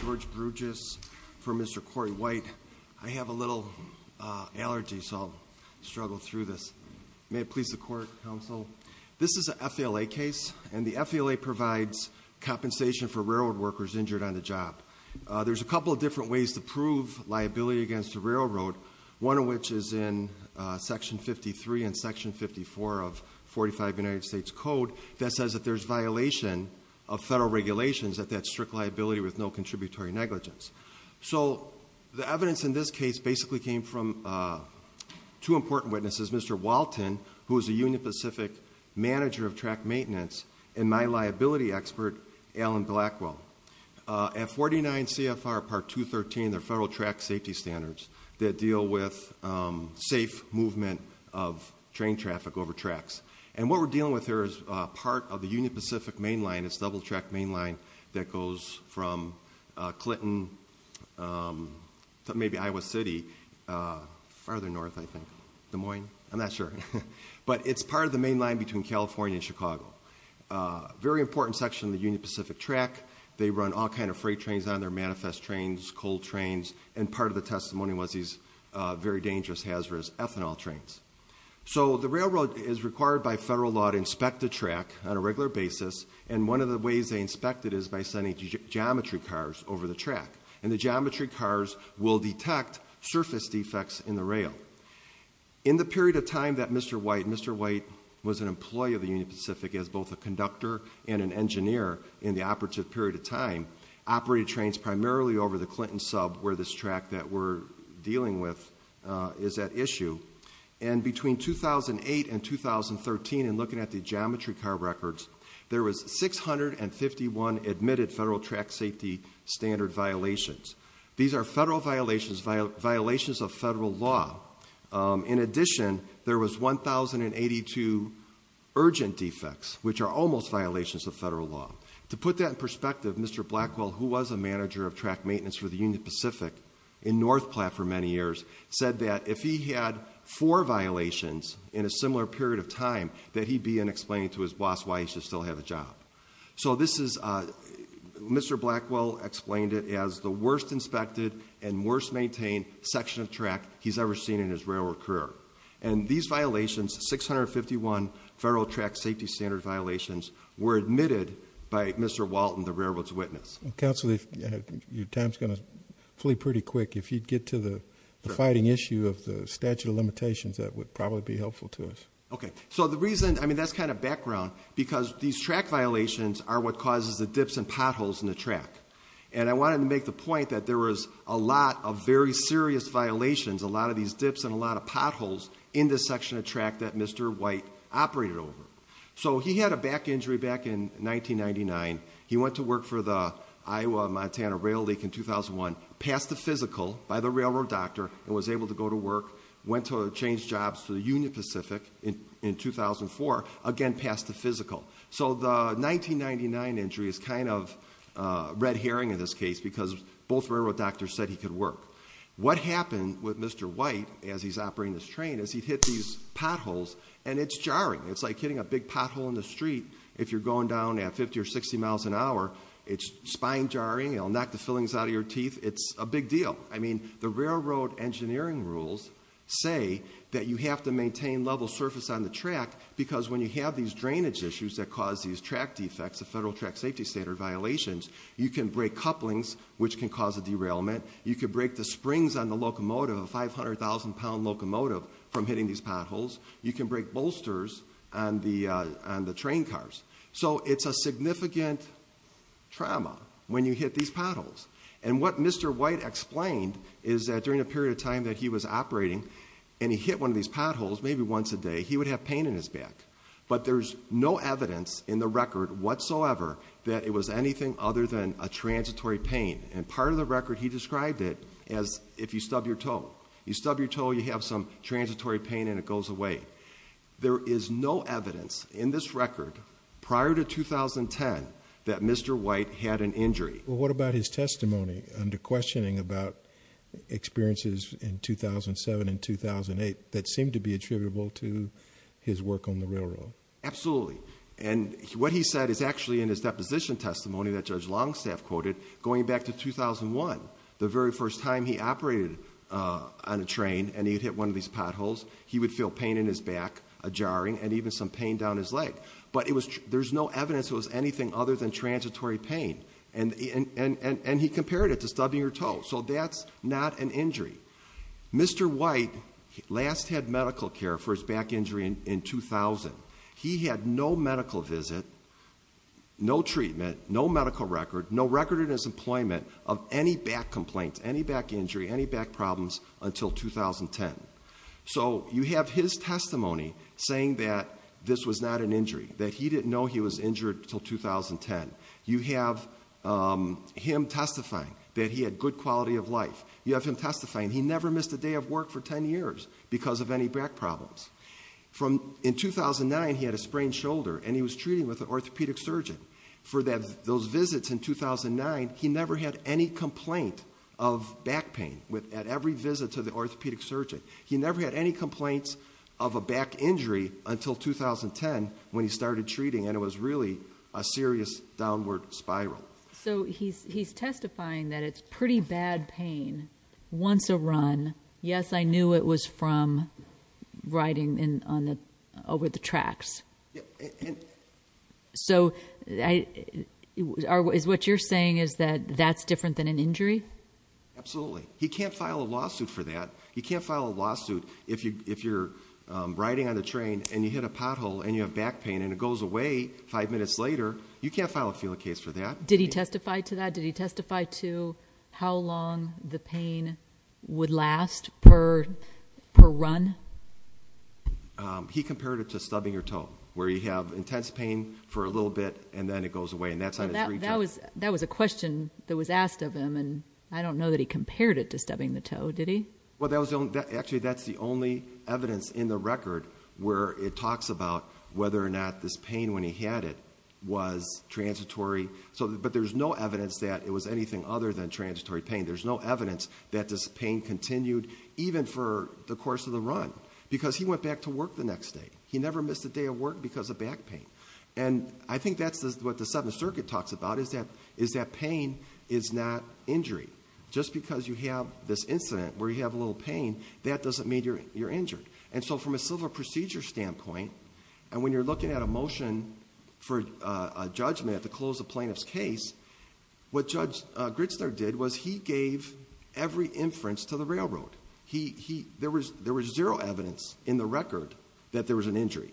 George Brugis for Mr. Corey White. I have a little allergy so I'll struggle through this. May it please the court, counsel. This is an FALA case and the FALA provides compensation for railroad workers injured on the job. There's a couple of different ways to prove liability against a railroad, one of which is in section 53 and section 54 of 45 United States Code that says that there's violation of federal regulations that that's strict liability with no contributory negligence. So the evidence in this case basically came from two important witnesses, Mr. Walton, who is a Union Pacific manager of track maintenance, and my liability expert, Alan Blackwell. At 49 CFR part 213, there are federal track safety standards that deal with safe movement of train traffic over tracks. And what we're dealing with here is part of the Union Pacific mainline, it's a double track mainline that goes from Clinton to maybe Iowa City, farther north I think. Des Moines? I'm not sure. But it's part of the mainline between California and Chicago. A very important section of the Union Pacific track, they run all kinds of freight trains on there, manifest trains, coal trains, and part of the testimony was these very dangerous hazardous ethanol trains. So the railroad is required by federal law to inspect the track on a regular basis, and one of the ways they inspect it is by sending geometry cars over the track. And the geometry cars will detect surface defects in the rail. In the period of time that Mr. White, Mr. White was an employee of the Union Pacific as both a conductor and an engineer in the operative period of time, operated trains primarily over the Clinton sub where this is at issue. And between 2008 and 2013, and looking at the geometry car records, there was 651 admitted federal track safety standard violations. These are federal violations of federal law. In addition, there was 1,082 urgent defects, which are almost violations of federal law. To put that in perspective, Mr. Blackwell, who was a manager of track maintenance for the Union Pacific in North Platte for many years, said that if he had four violations in a similar period of time, that he'd be unexplained to his boss why he should still have a job. So this is, Mr. Blackwell explained it as the worst inspected and worst maintained section of track he's ever seen in his railroad career. And these violations, 651 federal track safety standard violations, were admitted by Mr. Walton, the railroad's witness. Counselor, your time's going to flee pretty quick. If you'd get to the fighting issue of the statute of limitations, that would probably be helpful to us. Okay. So the reason, I mean, that's kind of background because these track violations are what causes the dips and potholes in the track. And I wanted to make the point that there was a lot of very serious violations, a lot of these dips and a lot of potholes in this section of track that Mr. White operated over. So he had a back injury back in 1999. He went to work for the Iowa-Montana Rail League in 2001, passed the physical by the railroad doctor and was able to go to work, went to change jobs for the Union Pacific in 2004, again passed the physical. So the 1999 injury is kind of red herring in this case because both railroad doctors said he could work. What happened with Mr. White as he's operating this train is he'd hit these potholes and it's jarring. It's like hitting a big pothole in the street. If you're going down at 50 or 60 miles an hour, it's mind-jarring. It'll knock the fillings out of your teeth. It's a big deal. I mean, the railroad engineering rules say that you have to maintain level surface on the track because when you have these drainage issues that cause these track defects, the federal track safety standard violations, you can break couplings which can cause a derailment. You could break the springs on the locomotive, a 500,000-pound locomotive, from hitting these potholes. You can break bolsters on the train cars. So it's a significant trauma when you hit these potholes. And what Mr. White explained is that during a period of time that he was operating and he hit one of these potholes, maybe once a day, he would have pain in his back. But there's no evidence in the record whatsoever that it was anything other than a transitory pain. And part of the record, he described it as if you stub your toe. You stub your toe, you have some transitory pain and it goes away. There is no evidence in this record prior to 2010 that Mr. White had an injury. Well, what about his testimony under questioning about experiences in 2007 and 2008 that seemed to be attributable to his work on the railroad? Absolutely. And what he said is actually in his deposition testimony that Judge Longstaff quoted going back to 2001, the very first time he operated on a train and he'd hit one of these potholes, he would feel pain in his back, a jarring, and even some pain down his leg. But there's no evidence it was anything other than transitory pain. And he compared it to stubbing your toe. So that's not an injury. Mr. White last had medical care for his back injury in 2000. He had no medical visit, no treatment, no medical record, no record in his employment of any back complaints, any back injury, any back problems until 2010. So you have his testimony saying that this was not an injury, that he didn't know he was injured until 2010. You have him testifying that he had good quality of life. You have him testifying he never missed a day of work for 10 years because of any back problems. In 2009, he had a sprained shoulder and he was treating with an orthopedic surgeon. For those visits in 2009, he never had any complaint of back pain at every visit to the orthopedic surgeon. He never had any complaints of a back injury until 2010 when he started treating and it was really a serious downward spiral. So he's testifying that it's pretty bad pain once a run. Yes, I knew it was from riding over the tracks. So what you're saying is that that's different than an injury? Absolutely. He can't file a lawsuit for that. He can't file a lawsuit if you're riding on the train and you hit a pothole and you have back pain and it goes away five minutes later. You can't file a field case for that. Did he testify to that? Did he testify to how long the pain would last per run? He compared it to stubbing your toe where you have intense pain for a little bit and then it goes away. That was a question that was asked of him and I don't know that he compared it to stubbing the toe, did he? Well, actually that's the only evidence in the record where it talks about whether or not this pain when he had it was transitory. But there's no transitory pain. There's no evidence that this pain continued even for the course of the run because he went back to work the next day. He never missed a day of work because of back pain. And I think that's what the Seventh Circuit talks about is that pain is not injury. Just because you have this incident where you have a little pain, that doesn't mean you're injured. And so from a civil procedure standpoint and when you're looking at a motion for a judgment to close a plaintiff's case, what Judge Gritzler did was he gave every inference to the railroad. There was zero evidence in the record that there was an injury.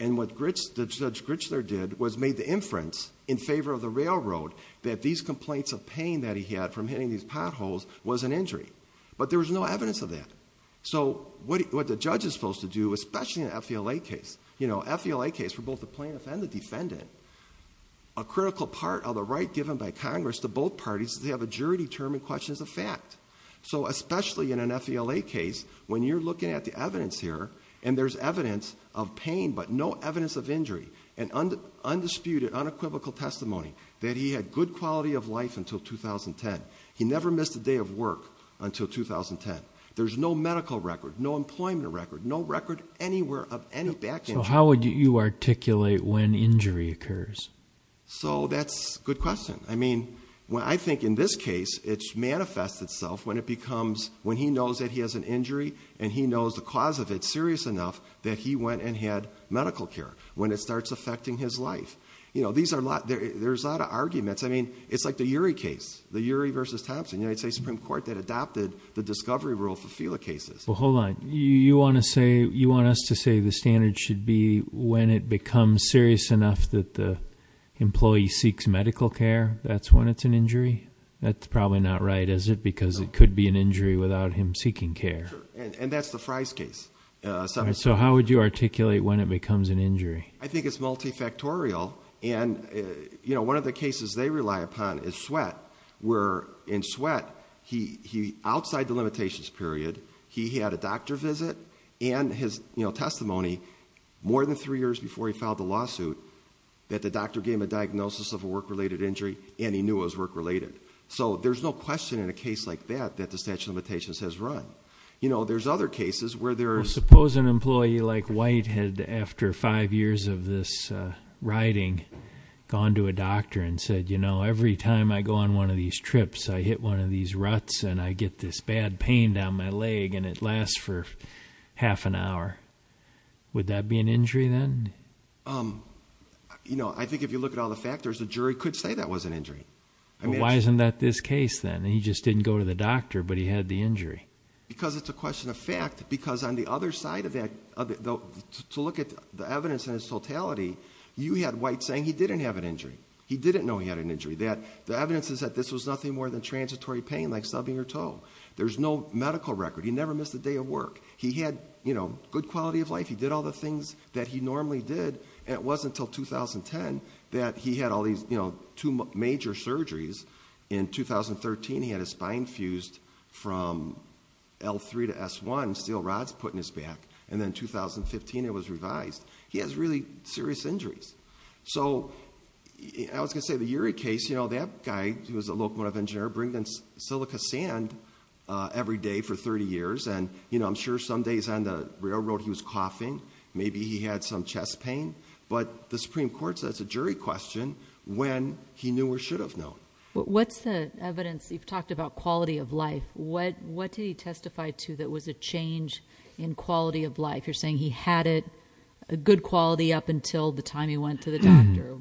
And what Judge Gritzler did was made the inference in favor of the railroad that these complaints of pain that he had from hitting these potholes was an injury. But there was no evidence of that. So what the judge is supposed to do, especially in an FVLA case, you know FVLA case for both the plaintiff and the defendant, a critical part of the right given by Congress to both parties is they have a jury-determined question as a fact. So especially in an FVLA case when you're looking at the evidence here and there's evidence of pain but no evidence of injury and undisputed unequivocal testimony that he had good quality of life until 2010. He never missed a day of work until 2010. There's no medical record, no employment record, no record anywhere of any back injury. So how would you articulate when injury occurs? So that's a good question. I mean, I think in this case it manifests itself when it becomes when he knows that he has an injury and he knows the cause of it serious enough that he went and had medical care when it starts affecting his life. You know, there's a lot of arguments. I mean, it's like the Urey case, the Urey v. Thompson, United States Supreme Court that adopted the cases. Well, hold on. You want to say, you want us to say the standard should be when it becomes serious enough that the employee seeks medical care, that's when it's an injury? That's probably not right, is it? Because it could be an injury without him seeking care. And that's the Fry's case. So how would you articulate when it becomes an injury? I think it's multifactorial and, you know, in Sweatt, outside the limitations period, he had a doctor visit and his testimony more than three years before he filed the lawsuit that the doctor gave him a diagnosis of a work-related injury and he knew it was work-related. So there's no question in a case like that that the statute of limitations has run. You know, there's other cases where there's... Suppose an employee like White had, after five years of this riding, gone to a doctor and said, every time I go on one of these trips, I hit one of these ruts and I get this bad pain down my leg and it lasts for half an hour. Would that be an injury then? You know, I think if you look at all the factors, the jury could say that was an injury. Why isn't that this case then? He just didn't go to the doctor, but he had the injury. Because it's a question of fact. Because on the other side of that, to look at the evidence and its totality, you had White saying he didn't have an injury. He didn't know he had an injury. The evidence is that this was nothing more than transitory pain like stubbing your toe. There's no medical record. He never missed a day of work. He had, you know, good quality of life. He did all the things that he normally did and it wasn't until 2010 that he had all these two major surgeries. In 2013, he had his spine fused from L3 to S1, steel rods put in his back. And then in 2015, it was revised. He has really serious injuries. So, I was going to say the Urey case, you know, that guy who was a locomotive engineer, bringing in silica sand every day for 30 years and, you know, I'm sure some days on the railroad he was coughing. Maybe he had some chest pain. But the Supreme Court said it's a jury question when he knew or should have known. What's the evidence? You've talked about quality of life. What did he testify to that was a change in quality of life? You're saying he had it, a good quality up until the time he went to the doctor.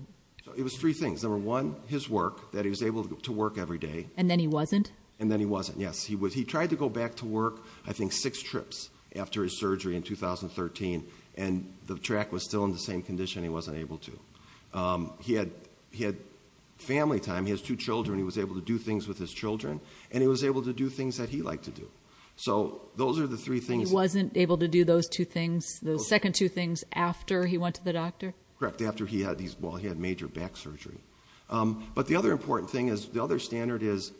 It was three things. Number one, his work, that he was able to work every day. And then he wasn't? And then he wasn't, yes. He was, he tried to go back to work, I think, six trips after his surgery in 2013 and the track was still in the same condition he wasn't able to. He had, he had family time. He has two children. He was able to do things with his children and he was able to do things that he liked to do. So those are the three things. He wasn't able to do those two things, the second two things, after he went to the doctor? Correct. After he had these, well, he had major back surgery. But the other important thing is, the other standard is,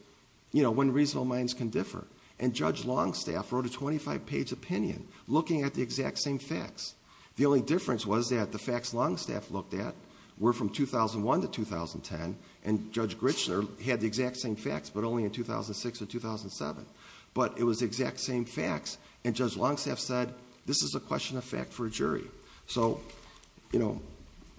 you know, when reasonable minds can differ. And Judge Longstaff wrote a 25-page opinion looking at the exact same facts. The only difference was that the facts Longstaff looked at were from 2001 to 2010. And Judge Grichner had the exact same facts, but only in 2006 or 2007. But it was the exact same facts. And Judge Longstaff said, this is a question of fact for a jury. So, you know,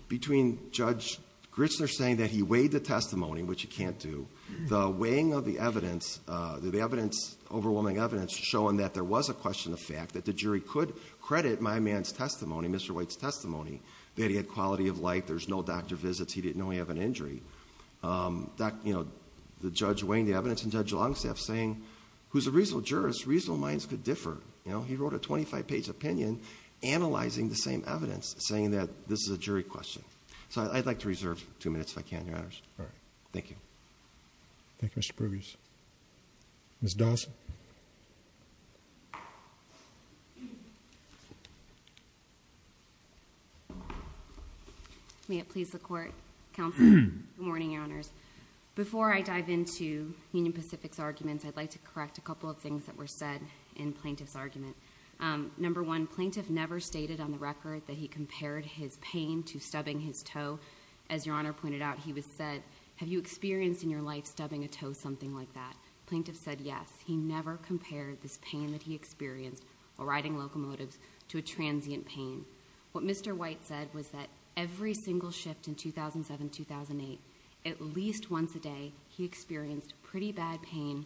between Judge Grichner saying that he weighed the testimony, which you can't do, the weighing of the evidence, the evidence, overwhelming evidence, showing that there was a question of fact, that the jury could credit my man's testimony, Mr. Grichner. He had quality of life. There's no doctor visits. He didn't know he had an injury. That, you know, the Judge weighing the evidence, and Judge Longstaff saying, who's a reasonable jurist, reasonable minds could differ. You know, he wrote a 25-page opinion analyzing the same evidence, saying that this is a jury question. So I'd like to reserve two minutes if I can, Your Honors. All right. Thank you. Thank you, Mr. Prubius. Ms. Dawson? May it please the Court, Counsel? Good morning, Your Honors. Before I dive into Union Pacific's arguments, I'd like to correct a couple of things that were said in Plaintiff's argument. Number one, Plaintiff never stated on the record that he compared his pain to stubbing his toe. As Your Honor pointed out, he was said, have you experienced in your life stubbing a toe, something like that? Plaintiff said, yes. He never compared this pain that he experienced while riding locomotives to a transient pain. What Mr. White said was that single shift in 2007-2008, at least once a day, he experienced pretty bad pain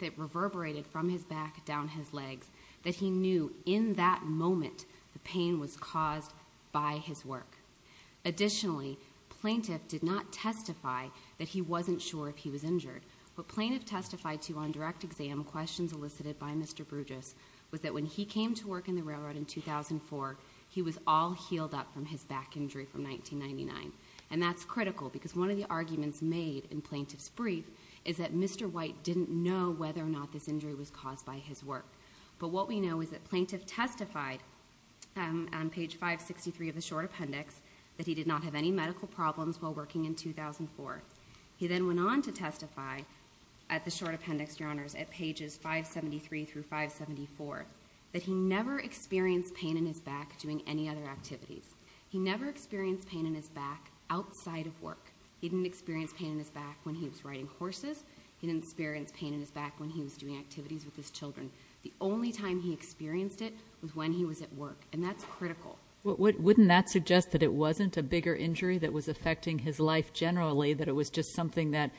that reverberated from his back down his legs, that he knew in that moment the pain was caused by his work. Additionally, Plaintiff did not testify that he wasn't sure if he was injured. What Plaintiff testified to on direct exam questions elicited by Mr. Bruges was that when he came to work in the railroad in 2004, he was all healed up from his back injury from 1999. And that's critical, because one of the arguments made in Plaintiff's brief is that Mr. White didn't know whether or not this injury was caused by his work. But what we know is that Plaintiff testified on page 563 of the short appendix that he did not have any medical problems while working in 2004. He then went on to testify at the short appendix, Your Honors, at pages 573 through 574, that he never experienced pain in his back doing any other activities. He never experienced pain in his back outside of work. He didn't experience pain in his back when he was riding horses. He didn't experience pain in his back when he was doing activities with his children. The only time he experienced it was when he was at work, and that's critical. Wouldn't that suggest that it wasn't a bigger injury that was affecting his life generally, that it was just something that,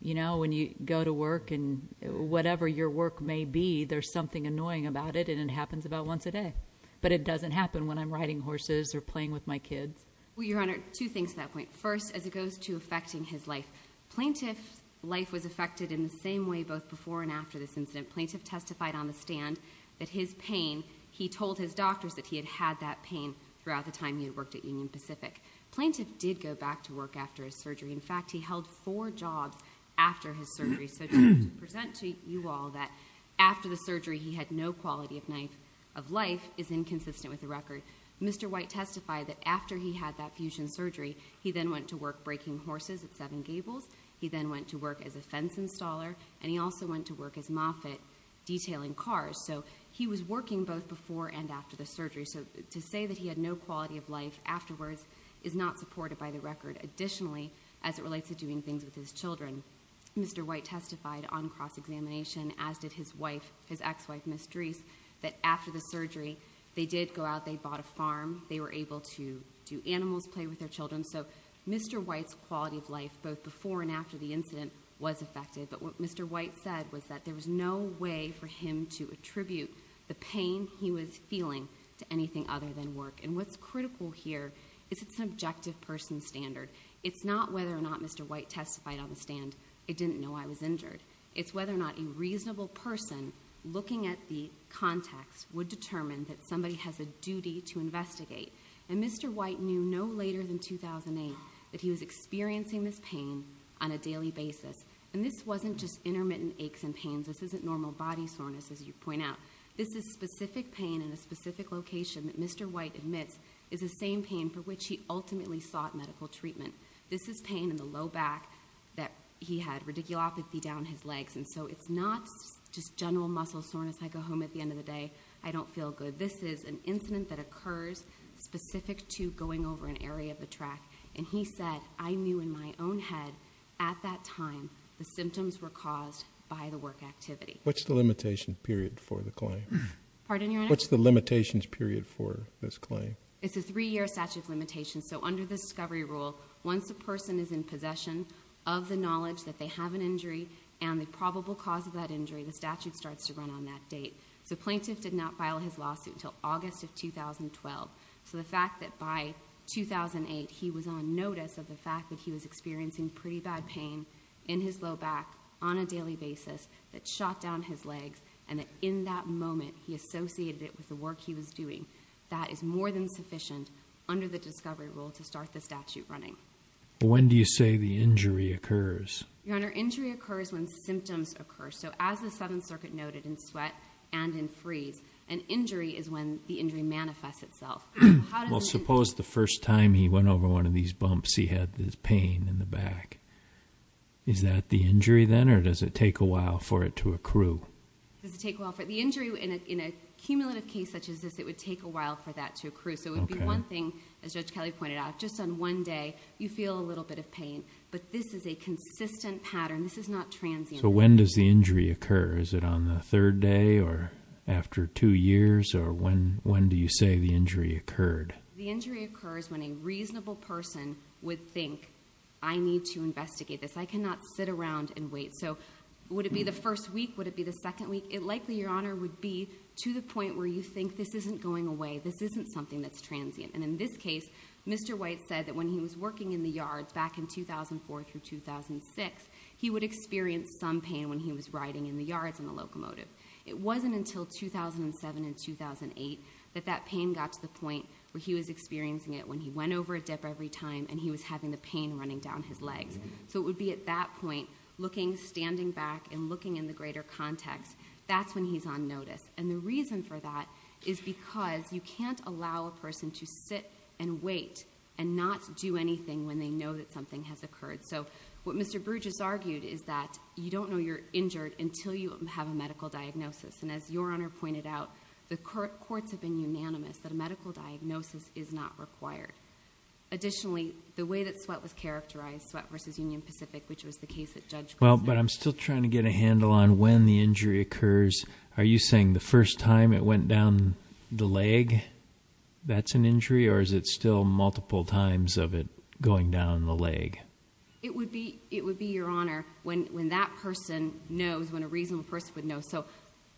you know, when you go to work and whatever your work may be, there's something annoying about it, and it happens about once a day. But it doesn't happen when I'm riding horses or playing with my kids. Well, Your Honor, two things to that point. First, as it goes to affecting his life, Plaintiff's life was affected in the same way both before and after this incident. Plaintiff testified on the stand that his pain, he told his doctors that he had had that pain throughout the time he had worked at Union Pacific. Plaintiff did go back to work after his surgery. In fact, he held four jobs after his surgery. So to present to you all that after the surgery he had no quality of life is inconsistent with the record. Mr. White testified that after he had that fusion surgery, he then went to work breaking horses at Seven Gables. He then went to work as a fence installer, and he also went to work as Moffitt detailing cars. So he was working both before and after the surgery. So to say that he had no quality of life afterwards is not supported by the record. Additionally, as it relates to doing things with his children, Mr. White testified on cross-examination, as did his wife, his ex-wife, Ms. Drees, that after the surgery they did go out, they bought a farm, they were able to do animals, play with their children. So Mr. White's quality of life both before and after the incident was affected. But what Mr. White said was that there was no way for him to attribute the pain he was feeling to anything other than work. And what's critical here is it's an objective person standard. It's not whether or not Mr. White testified on the stand, it didn't know I was injured. It's whether or not a reasonable person looking at the context would determine that somebody has a duty to investigate. And Mr. White knew no later than 2008 that he was experiencing this pain on a daily basis. And this wasn't just intermittent aches and pains. This isn't normal body soreness, as you point out. This is specific pain in a specific location that Mr. White admits is the same pain for which he ultimately sought medical treatment. This is pain in the low back that he had radiculopathy down his legs. And so it's not just general muscle soreness, I go home at the end of the day, I don't feel good. This is an incident that occurs specific to going over an area of the track. And he said, I knew in my own head at that time the symptoms were caused by the work activity. What's the limitation period for the claim? Pardon, Your Honor? What's the limitations period for this claim? It's a three year statute of limitations. So under the discovery rule, once a person is in possession of the knowledge that they have an injury and the probable cause of that injury, the statute starts to run on that date. So plaintiff did not file his lawsuit until August of 2012. So the fact that by 2008 he was on notice of the fact that he was experiencing pretty bad pain in his low back on a daily basis that shot down his legs and that in that moment he associated it with the work he was doing, that is more than sufficient under the discovery rule to start the statute running. When do you say the injury occurs? Your Honor, injury occurs when symptoms occur. So as the 7th Circuit noted in sweat and in freeze, an injury is when the injury manifests itself. Well, suppose the first time he went over one of these bumps he had this pain in the back. Is that the injury then or does it take a while for it to accrue? The injury in a cumulative case such as this, it would take a while for that to accrue. So it would be one thing as Judge Kelly pointed out, just on one day you feel a little bit of pain, but this is a consistent pattern. This is not transient. So when does the injury occur? Is it on the third day or after two years or when do you say the injury occurred? The injury occurs when a reasonable person would think, I need to investigate this. I cannot sit around and wait. So would it be the first week? Would it be the second week? It likely, Your Honor, would be to the point where you think this isn't going away. This isn't something that's transient. And in this case, Mr. White said that when he was working in the yards back in 2004 through 2006, he would experience some pain when he was riding in the yards in the locomotive. It wasn't until 2007 and 2008 that that pain got to the point where he was experiencing it when he went over a dip every time and he was having the pain running down his legs. So it would be at that point, looking, standing back and looking in the greater context, that's when he's on notice. And the reason for that is because you can't allow a person to sit and wait and not do anything when they know that something has occurred. So what Mr. Bruges argued is that you don't know you're injured until you have a medical diagnosis. And as Your Honor pointed out, the courts have been unanimous that a medical diagnosis is not required. Additionally, the way that sweat was characterized, sweat versus Union Pacific, which was the case that Judge Griswold... Well, but I'm still trying to get a handle on when the injury occurs. Are you saying the first time it went down the leg, that's an injury? Or is it still multiple times of it going down the leg? It would be, Your Honor, when that person knows, when a reasonable person would know...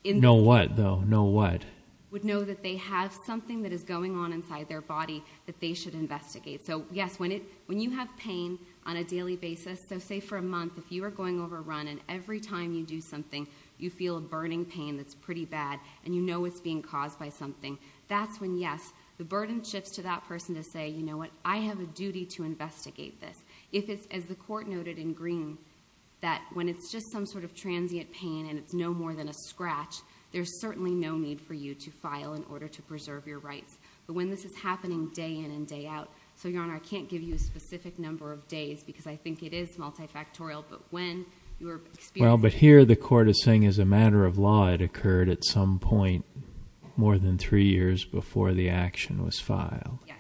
Know what though? Know what? Would know that they have something that is going on inside their body that they should investigate. So yes, when you have pain on a daily basis, so say for a month, if you are going overrun and every time you do something, you feel a burning pain that's pretty bad and you know it's being caused by something, that's when yes, the burden shifts to that person to say, you know what, I have a duty to investigate this. If it's, as the more than a scratch, there's certainly no need for you to file in order to preserve your rights. But when this is happening day in and day out, so Your Honor, I can't give you a specific number of days because I think it is multifactorial, but when you're... Well, but here the court is saying as a matter of law, it occurred at some point more than three years before the action was filed. Yes,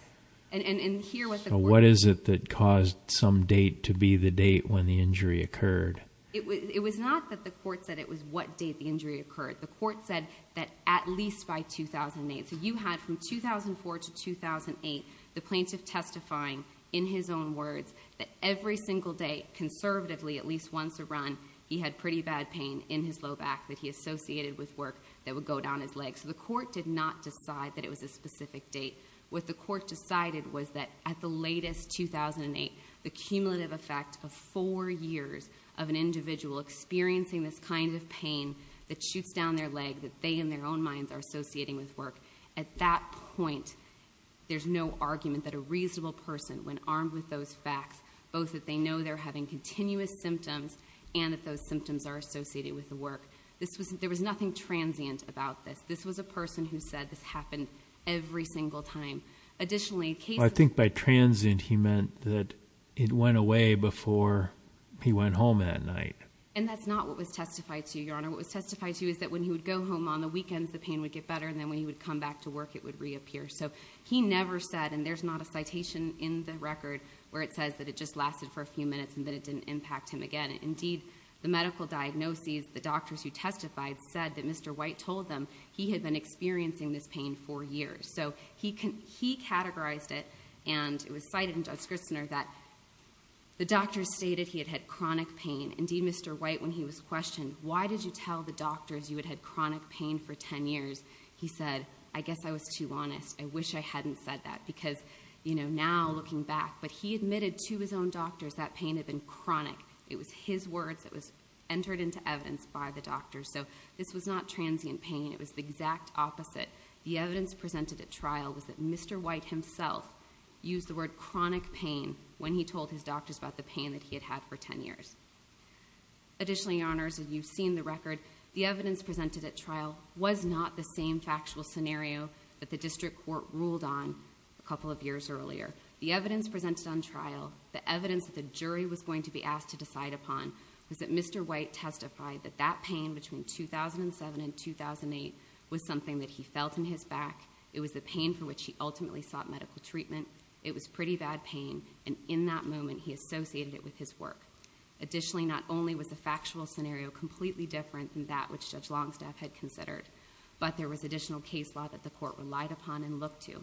and here what the court... So what is it that caused some date to be the date when the injury occurred? It was not that the court said it was what date the injury occurred. The court said that at least by 2008. So you had from 2004 to 2008, the plaintiff testifying in his own words that every single day, conservatively, at least once a run, he had pretty bad pain in his low back that he associated with work that would go down his leg. So the court did not decide that it was a specific date. What the court decided was that at the latest 2008, the cumulative effect of four years of an individual experiencing this kind of pain that shoots down their leg that they in their own minds are associating with work. At that point, there's no argument that a reasonable person, when armed with those facts, both that they know they're having continuous symptoms and that those symptoms are associated with the work. There was nothing transient about this. This was a person who said this happened every single time. Additionally... I think by transient, he meant that it went away before he went home that night. And that's not what was testified to, Your Honor. What was testified to is that when he would go home on the weekends, the pain would get better, and then when he would come back to work, it would reappear. So he never said, and there's not a citation in the record where it says that it just lasted for a few minutes and that it didn't impact him again. Indeed, the medical diagnoses, the doctors who testified said that Mr. White told them he had been experiencing this pain for years. So he categorized it, and it was cited in that the doctors stated he had had chronic pain. Indeed, Mr. White, when he was questioned, why did you tell the doctors you had had chronic pain for 10 years, he said, I guess I was too honest. I wish I hadn't said that. Because now, looking back, but he admitted to his own doctors that pain had been chronic. It was his words that was entered into evidence by the doctors. So this was not transient pain. It was the exact opposite. The evidence presented at trial was that Mr. White testified that he had had chronic pain when he told his doctors about the pain that he had had for 10 years. Additionally, Your Honors, you've seen the record. The evidence presented at trial was not the same factual scenario that the district court ruled on a couple of years earlier. The evidence presented on trial, the evidence that the jury was going to be asked to decide upon, was that Mr. White testified that that pain between 2007 and 2008 was something that he felt in his back. It was the pain for which he ultimately sought medical treatment. It was pretty bad pain, and in that moment, he associated it with his work. Additionally, not only was the factual scenario completely different than that which Judge Longstaff had considered, but there was additional case law that the court relied upon and looked to.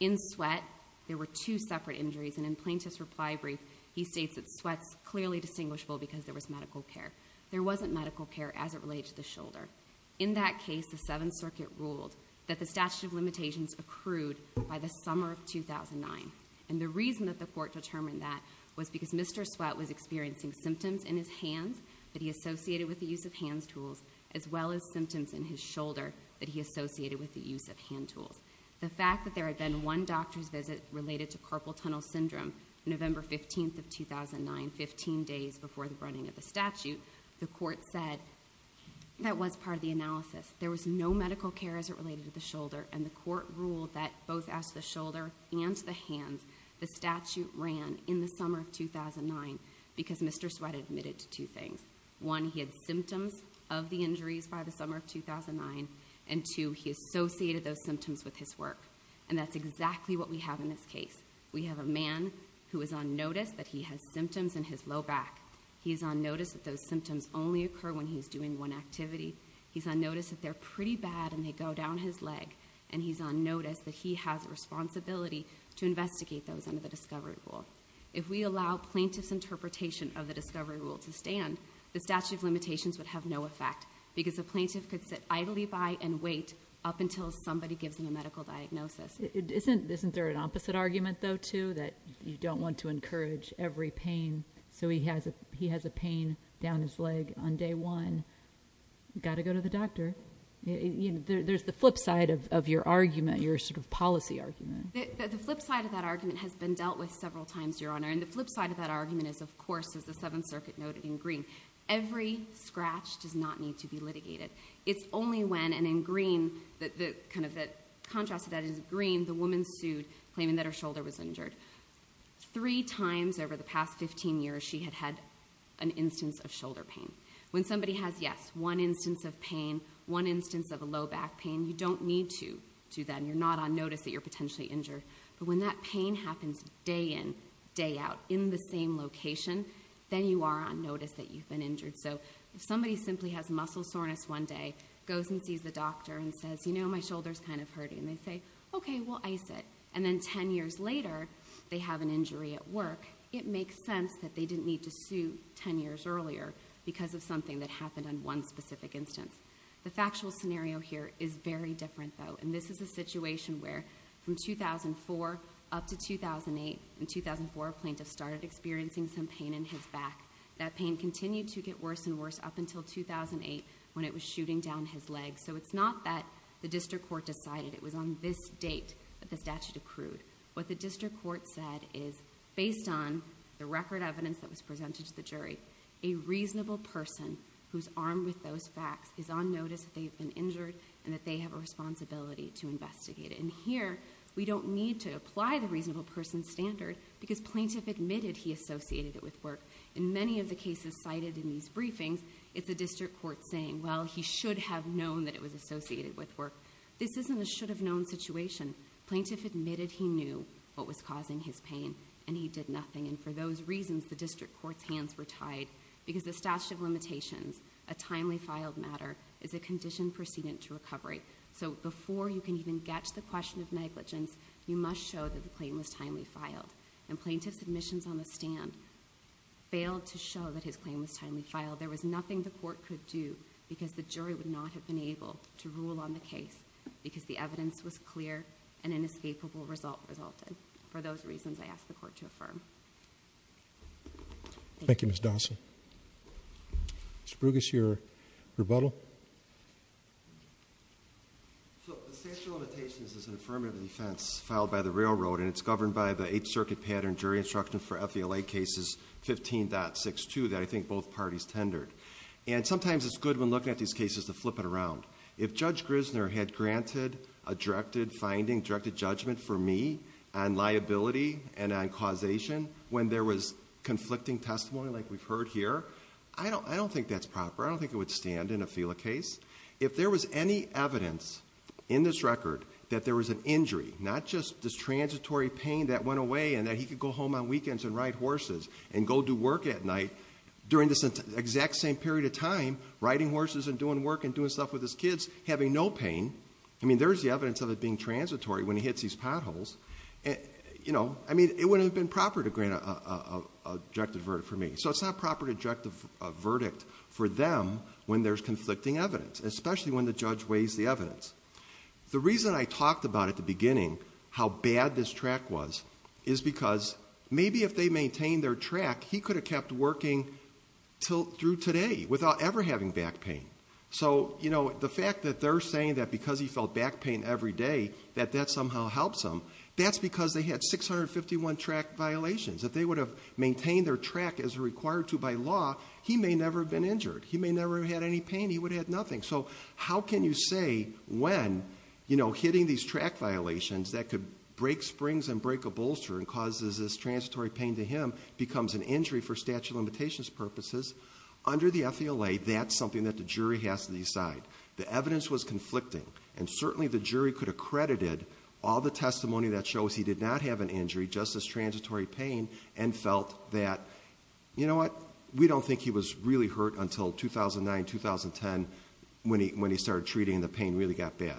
In Sweatt, there were two separate injuries, and in Plaintiff's reply brief, he states that Sweatt's clearly distinguishable because there was medical care. There wasn't medical care as it related to the shoulder. In that case, the Seventh Circuit ruled that the statute of limitations accrued by the summer of 2009, and the reason that the court determined that was because Mr. Sweatt was experiencing symptoms in his hands that he associated with the use of hands tools, as well as symptoms in his shoulder that he associated with the use of hand tools. The fact that there had been one doctor's visit related to carpal tunnel syndrome on November 15th of 2009, 15 days before the running of the statute, the court said that was part of the analysis. There was no medical care as it related to the shoulder, and the court ruled that both as to the shoulder and to the hands, the statute ran in the summer of 2009 because Mr. Sweatt admitted to two things. One, he had symptoms of the injuries by the summer of 2009, and two, he associated those symptoms with his work, and that's exactly what we have in this case. We have a man who is on notice that he has symptoms in his low back. He's on notice that those symptoms only occur when he's doing one activity. He's on notice that they're pretty bad and they go down his leg, and he's on notice that he has a responsibility to investigate those under the discovery rule. If we allow plaintiff's interpretation of the discovery rule to stand, the statute of limitations would have no effect because the plaintiff could sit idly by and wait up until somebody gives him a medical diagnosis. Isn't there an opposite argument, though, too, that you don't want to encourage every pain so he has a pain down his leg on day one? You've got to go to the doctor. There's the flip side of your argument, your sort of policy argument. The flip side of that argument has been dealt with several times, Your Honor, and the flip side of that argument is, of course, as the Seventh Circuit noted in green, every scratch does not need to be litigated. It's only when, and in green, the contrast to that is green, the woman sued claiming that her shoulder was injured. Three times over the past 15 years, she had had an instance of shoulder pain. When somebody has, yes, one instance of pain, one instance of a low back pain, you don't need to do that, and you're not on notice that you're potentially injured, but when that pain happens day in, day out, in the same location, then you are on notice that you've been injured. So if somebody simply has muscle soreness one day, goes and sees the doctor and says, you know, my shoulder's kind of hurting, and they say, okay, we'll ice it, and then 10 years later, they have an injury at work, it makes sense that they didn't need to sue 10 years earlier because of something that happened on one specific instance. The factual scenario here is very different, though, and this is a situation where, from 2004 up to 2008, in 2004, a plaintiff started experiencing some pain in his back. That pain continued to get worse and worse up until 2008 when it was shooting down his legs. So it's not that the district court decided. It was on this date that the statute accrued. What the district court said is, based on the record evidence that was presented to the jury, a reasonable person who's armed with those facts is on notice that they've been injured and that they have a responsibility to investigate it. And here, we don't need to apply the reasonable person standard because plaintiff admitted he associated it with work. In many of the cases cited in these briefings, it's the district court saying, well, he should have known that it was what was causing his pain, and he did nothing. And for those reasons, the district court's hands were tied because the statute of limitations, a timely filed matter, is a condition precedent to recovery. So before you can even get to the question of negligence, you must show that the claim was timely filed. And plaintiff's admissions on the stand failed to show that his claim was timely filed. There was nothing the court could do because the jury would not have been able to rule on the case because the evidence was clear and inescapable result resulted. For those reasons, I ask the court to affirm. Thank you, Ms. Dawson. Mr. Brugis, your rebuttal? So the statute of limitations is an affirmative defense filed by the railroad, and it's governed by the Eighth Circuit pattern jury instruction for FVLA cases 15.62 that I think both parties tendered. And sometimes it's good when looking at these cases to flip it around. If Judge Grissner had granted a directed finding, directed judgment for me on liability and on causation when there was conflicting testimony like we've heard here, I don't think that's proper. I don't think it would stand in a FVLA case. If there was any evidence in this record that there was an injury, not just this transitory pain that went away and that he could go home on weekends and ride horses and go do work at night during this exact same period of time, riding horses and doing work and doing stuff with his kids, having no pain, I mean, there's the evidence of it being transitory when he hits these potholes. I mean, it wouldn't have been proper to grant an objective verdict for me. So it's not proper to direct a verdict for them when there's conflicting evidence, especially when the judge weighs the evidence. The reason I talked about at the beginning how bad this track was is because maybe if they maintained their track, he could have kept working through today without ever having back pain. So the fact that they're saying that because he felt back pain every day, that that somehow helps him, that's because they had 651 track violations. If they would have maintained their track as required to by law, he may never have been injured. He may never have had any pain. He would have had nothing. So how can you say when, you know, hitting these track violations that could break springs and break a bolster and causes this transitory pain to him becomes an injury for statute of limitations purposes, under the FELA, that's something that the jury has to decide. The evidence was conflicting and certainly the jury could have credited all the testimony that shows he did not have an injury, just this transitory pain, and felt that, you know what, we don't think he was really hurt until 2009, 2010, when he started treating and the pain really got bad.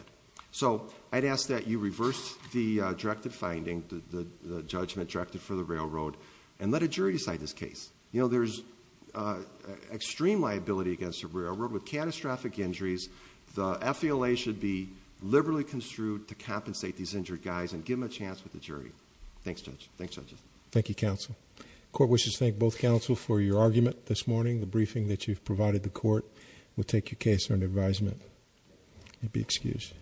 So I'd ask that you reverse the directive finding, the judgment directive for the railroad, and let a jury decide this case. You know, there's extreme liability against the railroad with catastrophic injuries. The FELA should be liberally construed to compensate these injured guys and give them a chance with the jury. Thanks, Judge. Thanks, Judge. Thank you, counsel. Court wishes to thank both counsel for your argument this morning, the briefing that you've provided the court. We'll take your case under advisement. You'll be excused.